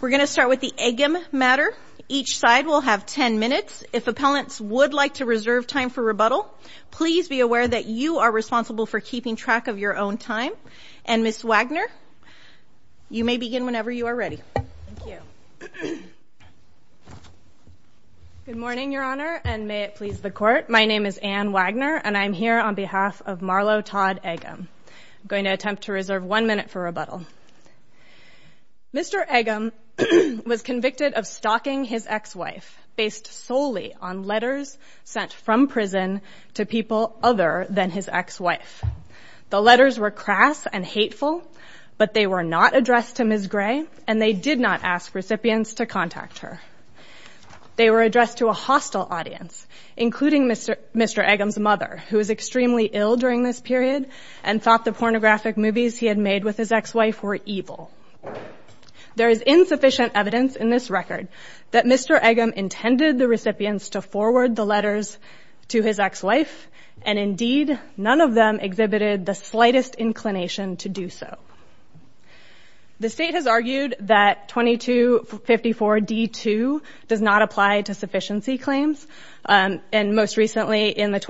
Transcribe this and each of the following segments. We're going to start with the Eggum matter. Each side will have 10 minutes. If appellants would like to reserve time for rebuttal, please be aware that you are responsible for keeping track of your own time. And Ms. Wagner, you may begin whenever you are ready. Good morning, Your Honor, and may it please the Court. My name is Anne Wagner, and I'm here on behalf of Marlow Todd Eggum. I'm going to attempt to reserve one minute for rebuttal. Mr. Eggum was convicted of stalking his ex-wife based solely on letters sent from prison to people other than his ex-wife. The letters were crass and hateful, but they were not addressed to Ms. Gray, and they did not ask recipients to contact her. They were addressed to a hostile audience, including Mr. Eggum's mother, who was extremely ill during this period and thought the pornographic movies he had made with his ex-wife were evil. There is insufficient evidence in this record that Mr. Eggum intended the recipients to forward the letters to his ex-wife, and indeed, none of them exhibited the slightest inclination to do so. The State has argued that § 2254d2 does not apply to sufficiency claims, and most recently in the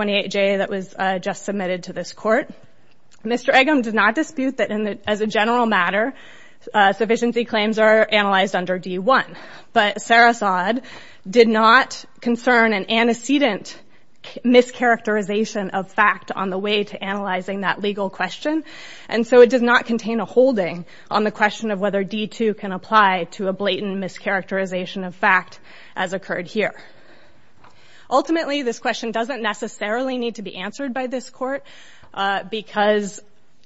Mr. Eggum did not dispute that, as a general matter, sufficiency claims are analyzed under D1, but Sarasod did not concern an antecedent mischaracterization of fact on the way to analyzing that legal question, and so it does not contain a holding on the question of whether D2 can apply to a blatant mischaracterization of fact as occurred here. Ultimately, this question doesn't necessarily need to be answered by this Court, because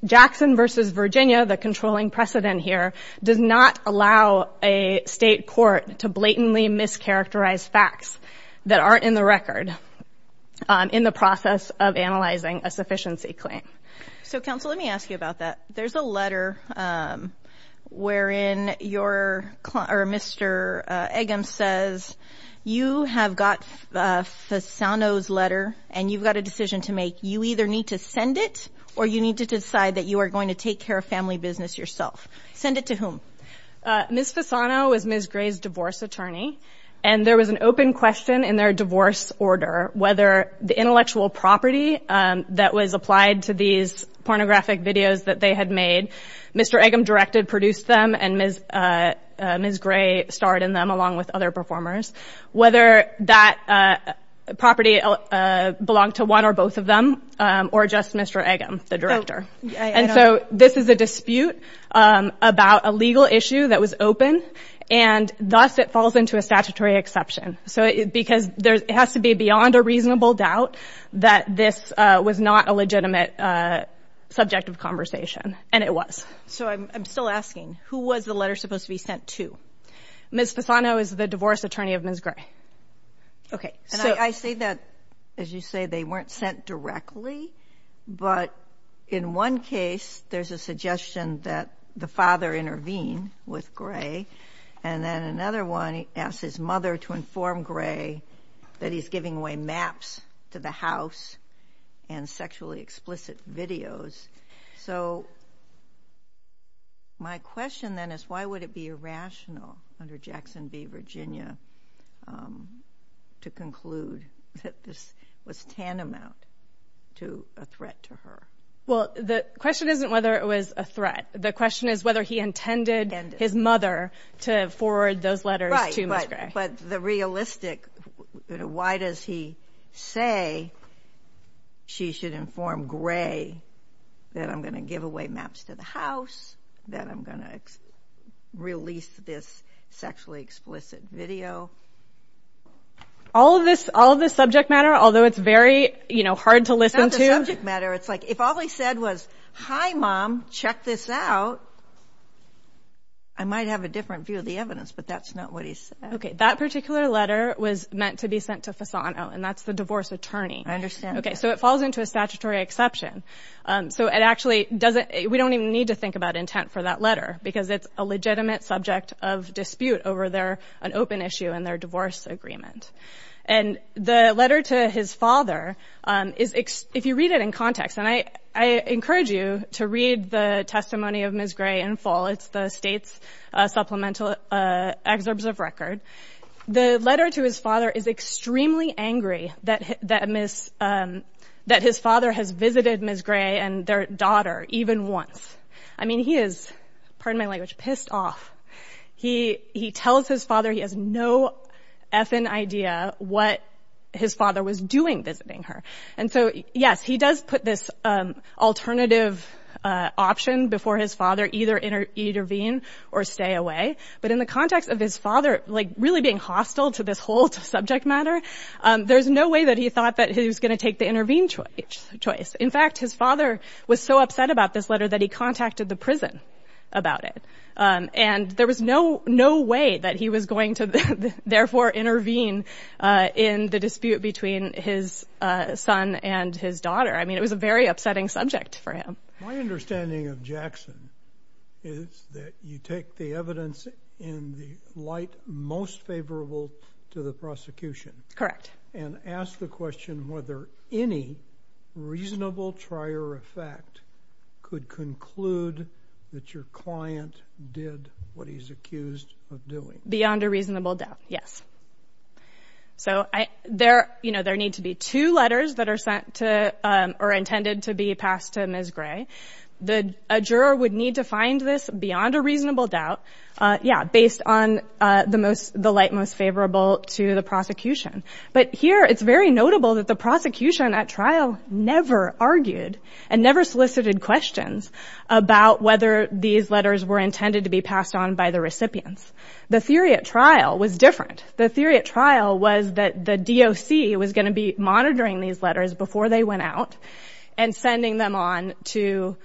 Jackson v. Virginia, the controlling precedent here, does not allow a State Court to blatantly mischaracterize facts that aren't in the record in the process of analyzing a sufficiency claim. So, Counsel, let me ask you about that. There's a letter wherein your client, or Mr. Eggum says, you have got Fasano's letter, and you've got a decision to make. You either need to send it, or you need to decide that you are going to take care of family business yourself. Send it to whom? Ms. Fasano is Ms. Gray's divorce attorney, and there was an open question in their divorce order whether the intellectual property that was applied to these pornographic videos that they had made, Mr. Eggum directed, produced them, and Ms. Gray starred in them along with other performers, whether that property belonged to one or both of them, or just Mr. Eggum, the director. And so, this is a dispute about a legal issue that was open, and thus it falls into a statutory exception, because it has to be beyond a reasonable doubt that this was not a legitimate subject of conversation, and it was. So, I'm still asking, who was the letter supposed to be sent to? Ms. Fasano is the divorce attorney of Ms. Gray. Okay. So, I see that, as you say, they weren't sent directly, but in one case, there's a suggestion that the father intervene with Gray, and then another one asks his mother to inform Gray that he's giving away maps to the house and sexually explicit videos. So, my question then is, why would it be irrational under Jackson v. Virginia to conclude that this was tantamount to a threat to her? Well, the question isn't whether it was a threat. The question is whether he intended his mother to forward those letters to Ms. Gray. But the realistic, why does he say she should inform Gray that I'm going to give away maps to the house, that I'm going to release this sexually explicit video? All of this subject matter, although it's very hard to listen to? It's not the subject matter. It's like, if all he said was, hi, mom, check this out, I might have a different view of the evidence, but that's not what he's saying. Okay, that particular letter was meant to be sent to Fasano, and that's the divorce attorney. I understand. Okay, so it falls into a statutory exception. So, it actually doesn't, we don't even need to think about intent for that letter, because it's a legitimate subject of dispute over their, an open issue in their divorce agreement. And the letter to his father is, if you read it in context, and I encourage you to read the testimony of Ms. Gray in full, it's the state's supplemental excerpts of record. The letter to his father is extremely angry that his father has visited Ms. Gray and their daughter even once. I mean, he is, pardon my language, pissed off. He tells his father he has no effing idea what his father was doing visiting her. And so, yes, he does put this alternative option before his father either intervene or stay away. But in the context of his father, like, really being hostile to this whole subject matter, there's no way that he thought that he was going to take the intervene choice. In fact, his father was so upset about this letter that he contacted the prison about it. And there was no, no way that he was going to therefore intervene in the dispute between his son and his daughter. I mean, it was a very upsetting subject for him. My understanding of Jackson is that you take the evidence in the light most favorable to the prosecution. Correct. And ask the question whether any reasonable trier effect could conclude that your client did what he's accused of doing. Beyond a reasonable doubt. Yes. So there, you know, there need to be two letters that are sent to or intended to be passed to Ms. Gray. The juror would need to find this beyond a reasonable doubt. Yeah. Based on the most, the light most favorable to the prosecution. But here it's very notable that the prosecution at trial never argued and never solicited questions about whether these letters were intended to be passed on by the recipients. The theory at trial was different. The theory at trial was that the DOC was going to be monitoring these letters before they went out and sending them on to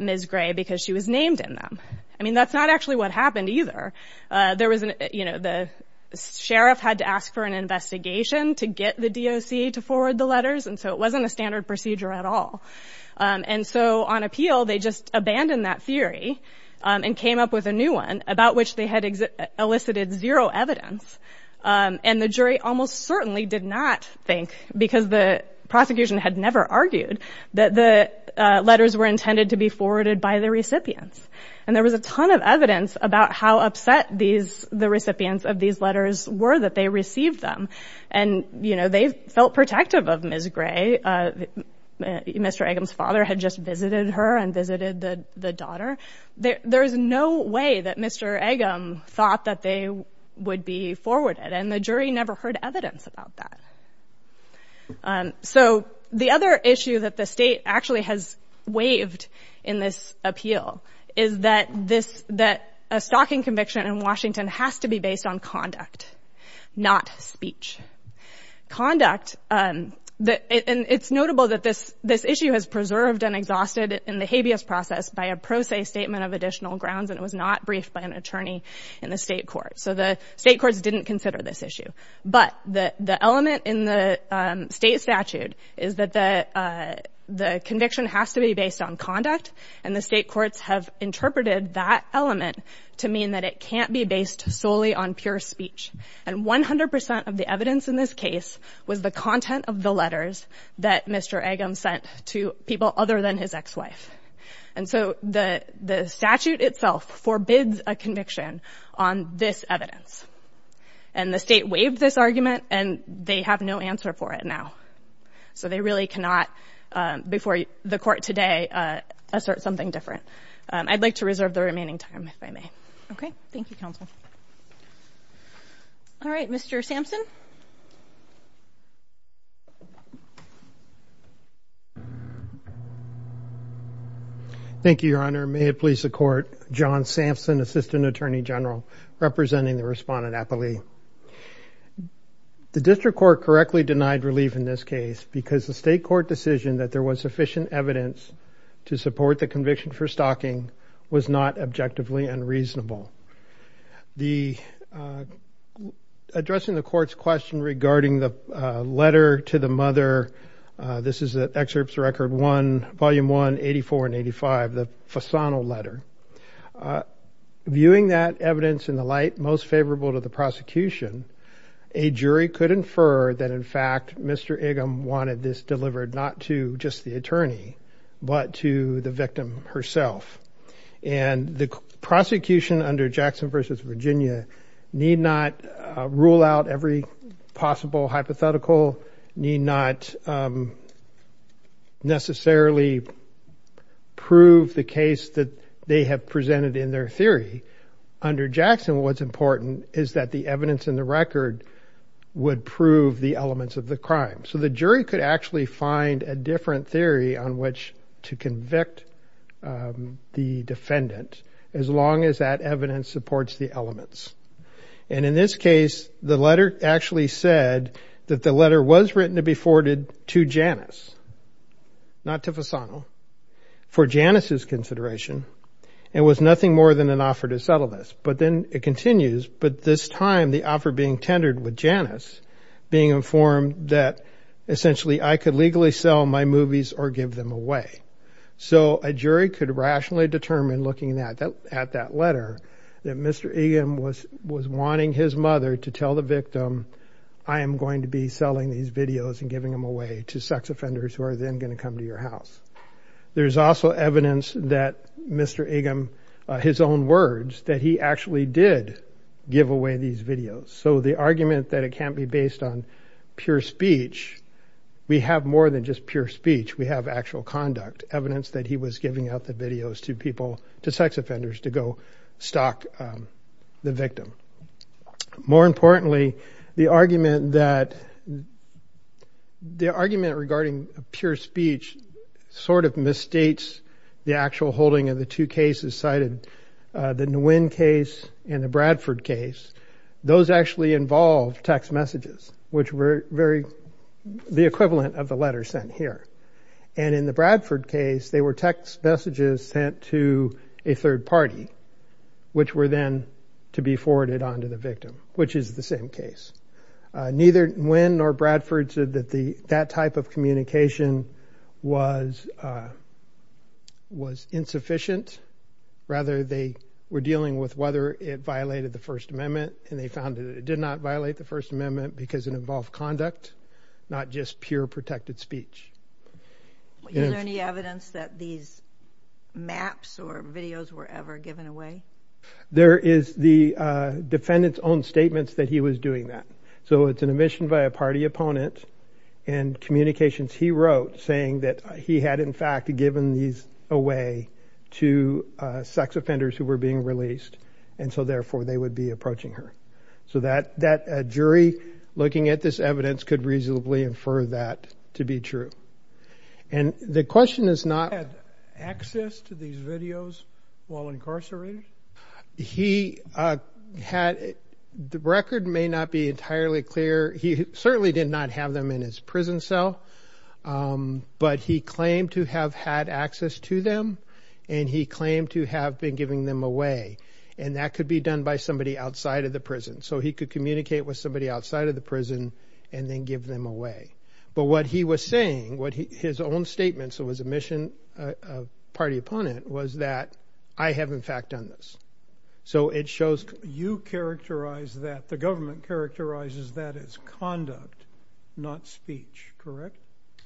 Ms. Gray because she was named in them. I mean, that's not actually what happened either. There was, you know, the sheriff had to ask for an investigation to get the DOC to forward the letters. And so it wasn't a standard procedure at all. And so on appeal, they just abandoned that theory and came up with a new one about which they had elicited zero evidence. And the jury almost certainly did not think, because the prosecution had never argued, that the letters were intended to be forwarded by the recipients. And there was a ton of evidence about how upset these, the recipients of these letters were that they received them. And, you know, they felt protective of Ms. Gray. Mr. Agam's father had just visited her and visited the daughter. There is no way that Mr. Agam thought that they would be forwarded. And the jury never heard evidence about that. So the other issue that the state actually has waived in this appeal is that this, that a stalking conviction in Washington has to be based on conduct, not speech. Conduct, and it's notable that this issue has preserved and exhausted in the habeas process by a pro se statement of additional grounds, and it was not briefed by an attorney in the state court. So the state courts didn't consider this issue. But the element in the state statute is that the conviction has to be based on conduct. And the state courts have interpreted that element to mean that it can't be based solely on pure speech. And 100% of the evidence in this case was the content of the letters that Mr. Agam sent to people other than his ex-wife. And so the statute itself forbids a conviction on this evidence. And the state waived this argument, and they have no answer for it now. So they really cannot, before the court today, assert something different. I'd like to reserve the remaining time, if I may. Okay. Thank you, counsel. All right. Mr. Sampson. Thank you, Your Honor. May it please the court. John Sampson, Assistant Attorney General, representing the respondent appellee. The district court correctly denied relief in this case because the state court decision that there was sufficient evidence to support the conviction for stalking was not objectively unreasonable. Addressing the court's question regarding the letter to the mother, this is Excerpts Record 1, Volume 1, 84 and 85, the Fasano letter. Viewing that evidence in the light most favorable to the prosecution, a jury could infer that, in fact, Mr. Agam wanted this delivered not to just the attorney, but to the victim herself. And the prosecution under Jackson v. Virginia need not rule out every possible hypothetical, need not necessarily prove the case that they have presented in their under Jackson, what's important is that the evidence in the record would prove the elements of the crime. So the jury could actually find a different theory on which to convict the defendant, as long as that evidence supports the elements. And in this case, the letter actually said that the letter was written to be forwarded to Janice, not to Fasano, for Janice's consideration, it was nothing more than an offer to settle this. But then it continues, but this time the offer being tendered with Janice, being informed that essentially I could legally sell my movies or give them away. So a jury could rationally determine looking at that letter that Mr. Agam was wanting his mother to tell the victim, I am going to be selling these videos and giving them away to sex offenders who are then going to come to your house. There's also evidence that Mr. Agam, his own words, that he actually did give away these videos. So the argument that it can't be based on pure speech, we have more than just pure speech, we have actual conduct, evidence that he was giving out the videos to people, to sex offenders to go stalk the victim. More importantly, the argument that the argument regarding pure speech sort of misstates the actual holding of the two cases cited, the Nguyen case and the Bradford case, those actually involved text messages, which were very, the equivalent of the letter sent here. And in the Bradford case, they were text messages sent to a third party, which were then to be forwarded on to the victim, which is the same case. Neither Nguyen nor Bradford said that that type of communication was insufficient. Rather, they were dealing with whether it violated the First Amendment, and they found that it did not violate the First Amendment because it involved conduct, not just pure protected speech. Is there any evidence that these maps or videos were ever given away? There is the defendant's own statements that he was doing that. So it's an omission by a party opponent and communications he wrote saying that he had in fact given these away to sex offenders who were being released, and so therefore they would be approaching her. So that jury looking at this evidence could reasonably infer that to be true. And the question is not... Had access to these videos while incarcerated? He had, the record may not be entirely clear. He certainly did not have them in his prison cell, but he claimed to have had access to them, and he claimed to have been giving them away. And that could be done by somebody outside of the prison. So he could communicate with somebody his own statements. It was a mission of party opponent was that I have in fact done this. So it shows... You characterize that the government characterizes that as conduct, not speech, correct?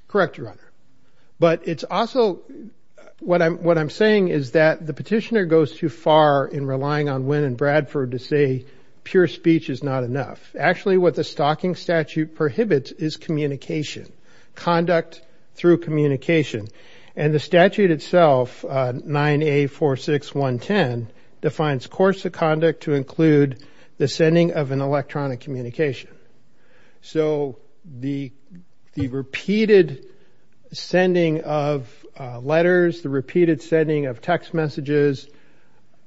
Correct, Your Honor. But it's also what I'm saying is that the petitioner goes too far in relying on Wynne and Bradford to say pure speech is not enough. Actually, what the stocking statute prohibits is communication, conduct through communication. And the statute itself, 9A46110, defines course of conduct to include the sending of an electronic communication. So the repeated sending of letters, the repeated sending of text messages,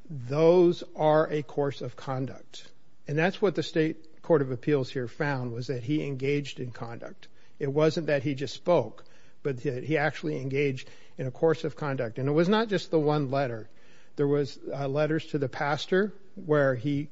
those are a course of conduct. And that's what the state court of appeals here found was that he engaged in conduct. It wasn't that he just spoke, but he actually engaged in a course of conduct. And it was not just the one letter. There was letters to the pastor where he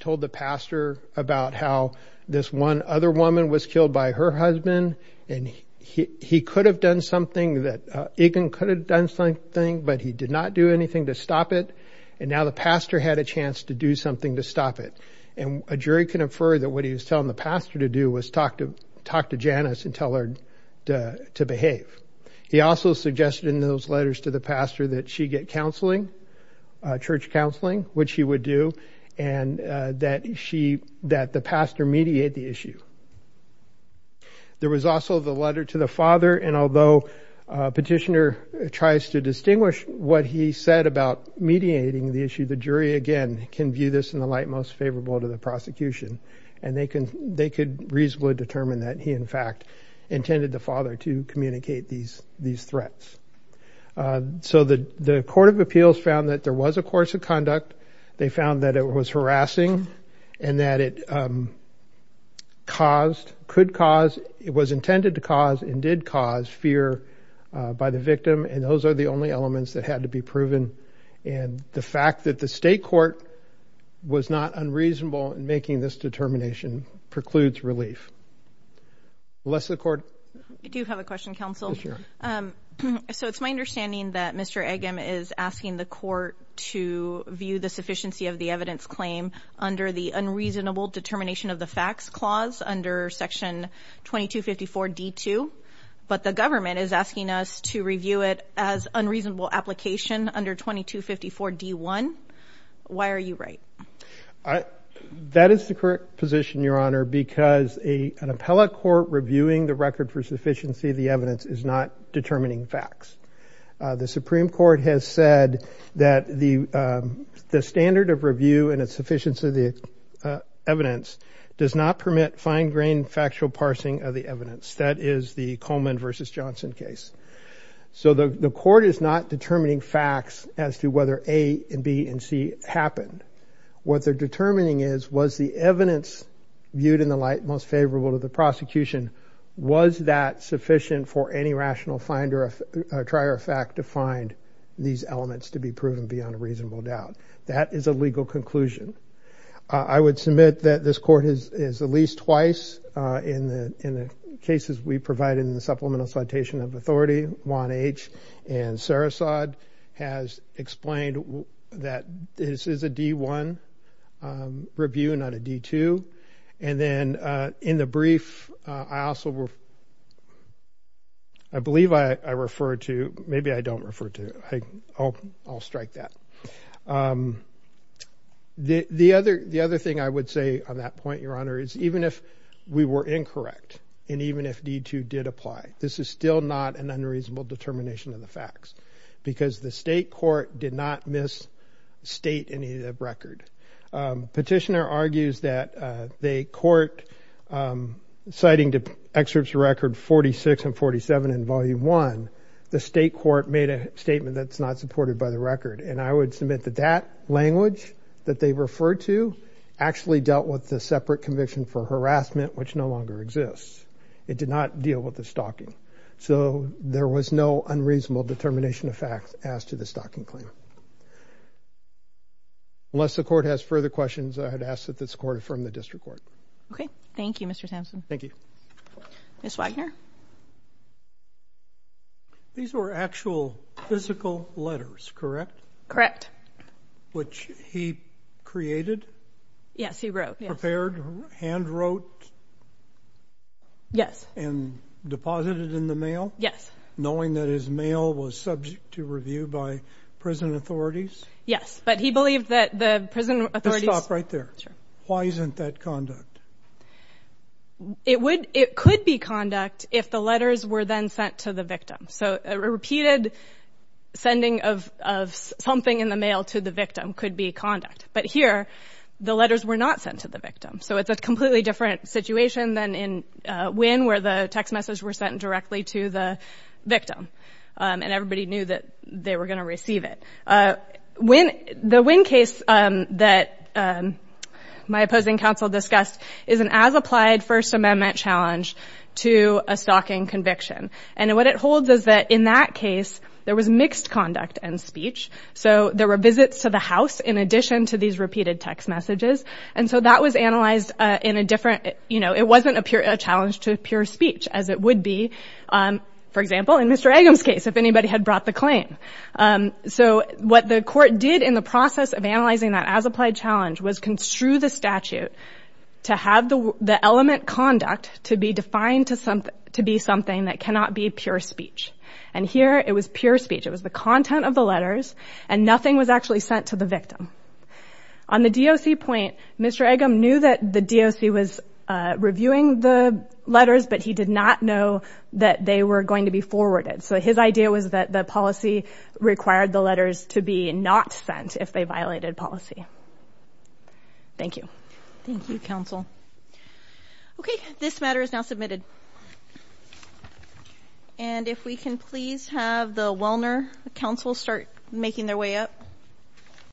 told the pastor about how this one other woman was killed by her husband, and he could have done something that... Egan could have done something, but he did not do anything to stop it. And now the pastor had a chance to do something to stop it. And a jury can infer that what he was telling the pastor to do was talk to Janice and tell her to behave. He also suggested in those letters to the pastor that she get counseling, church counseling, which he would do, and that the pastor mediate the issue. There was also the letter to the father. And although petitioner tries to distinguish what he said about mediating the issue, the jury, again, can view this in the light most favorable to the prosecution. And they could reasonably determine that he, in fact, intended the father to communicate these threats. So the court of appeals found that there was a course of conduct. They found that it was harassing and that it was intended to cause and did cause fear by the victim. And those are the only elements that had to be proven. And the fact that the state court was not unreasonable in making this determination precludes relief. Unless the court... I do have a question, counsel. So it's my understanding that Mr. Egan is asking the court to view the sufficiency of the evidence claim under the unreasonable determination of the facts clause under section 2254 D2. But the government is asking us to review it as unreasonable application under 2254 D1. Why are you right? That is the correct position, Your Honor, because an appellate court reviewing the record for sufficiency of the evidence is not determining facts. The Supreme Court has said that the standard of review and its sufficiency of the evidence does not permit fine-grained factual parsing of the evidence. That is the Coleman v. Johnson case. So the court is not determining facts as to whether A and B and C happened. What they're determining is was the evidence viewed in the light most favorable to the prosecution, was that sufficient for any rational try or fact to find these elements to be proven beyond a reasonable doubt. That is a legal conclusion. I would submit that this court has at least twice in the cases we provided in the Supplemental Citation of Authority, Juan H. and Sara Saad, has explained that this is a D1 review, not a D2. And then in the brief, I also, I believe I referred to, maybe I don't refer to, I'll strike that. The other thing I would say on that point, Your Honor, is even if we were incorrect, and even if D2 did apply, this is still not an unreasonable determination of the facts, because the state court did not misstate any of the record. Petitioner argues that they court, citing excerpts record 46 and 47 in Volume 1, the state court made a statement that's not supported by the record. And I would submit that that language that they referred to actually dealt with the separate conviction for harassment, which no longer exists. It did not deal with the determination of facts as to the stalking claim. Unless the court has further questions, I would ask that this court affirm the district court. Okay. Thank you, Mr. Sampson. Thank you. Ms. Wagner? These were actual physical letters, correct? Correct. Which he created? Yes, he wrote. Prepared, hand wrote? Yes. And deposited in the mail? Yes. Knowing that his mail was subject to review by prison authorities? Yes. But he believed that the prison authorities... Just stop right there. Sure. Why isn't that conduct? It would, it could be conduct if the letters were then sent to the victim. So a repeated sending of something in the mail to the victim could be conduct. But here, the letters were not sent to the victim. So it's a completely different situation than in Wynne, where the text message were sent directly to the victim. And everybody knew that they were going to receive it. The Wynne case that my opposing counsel discussed is an as-applied First Amendment challenge to a stalking conviction. And what it holds is that in that case, there was mixed conduct and speech. So there were visits to the house in addition to these repeated text messages. And so that was analyzed in a different, you know, it wasn't a challenge to pure speech, as it would be, for example, in Mr. Agam's case, if anybody had brought the claim. So what the court did in the process of analyzing that as-applied challenge was construe the statute to have the element conduct to be defined to be something that cannot be pure speech. And here, it was pure speech. It was the content of the letters, and nothing was actually to the victim. On the DOC point, Mr. Agam knew that the DOC was reviewing the letters, but he did not know that they were going to be forwarded. So his idea was that the policy required the letters to be not sent if they violated policy. Thank you. Thank you, counsel. Okay, this matter is now admitted. And if we can please have the Wellner counsel start making their way up.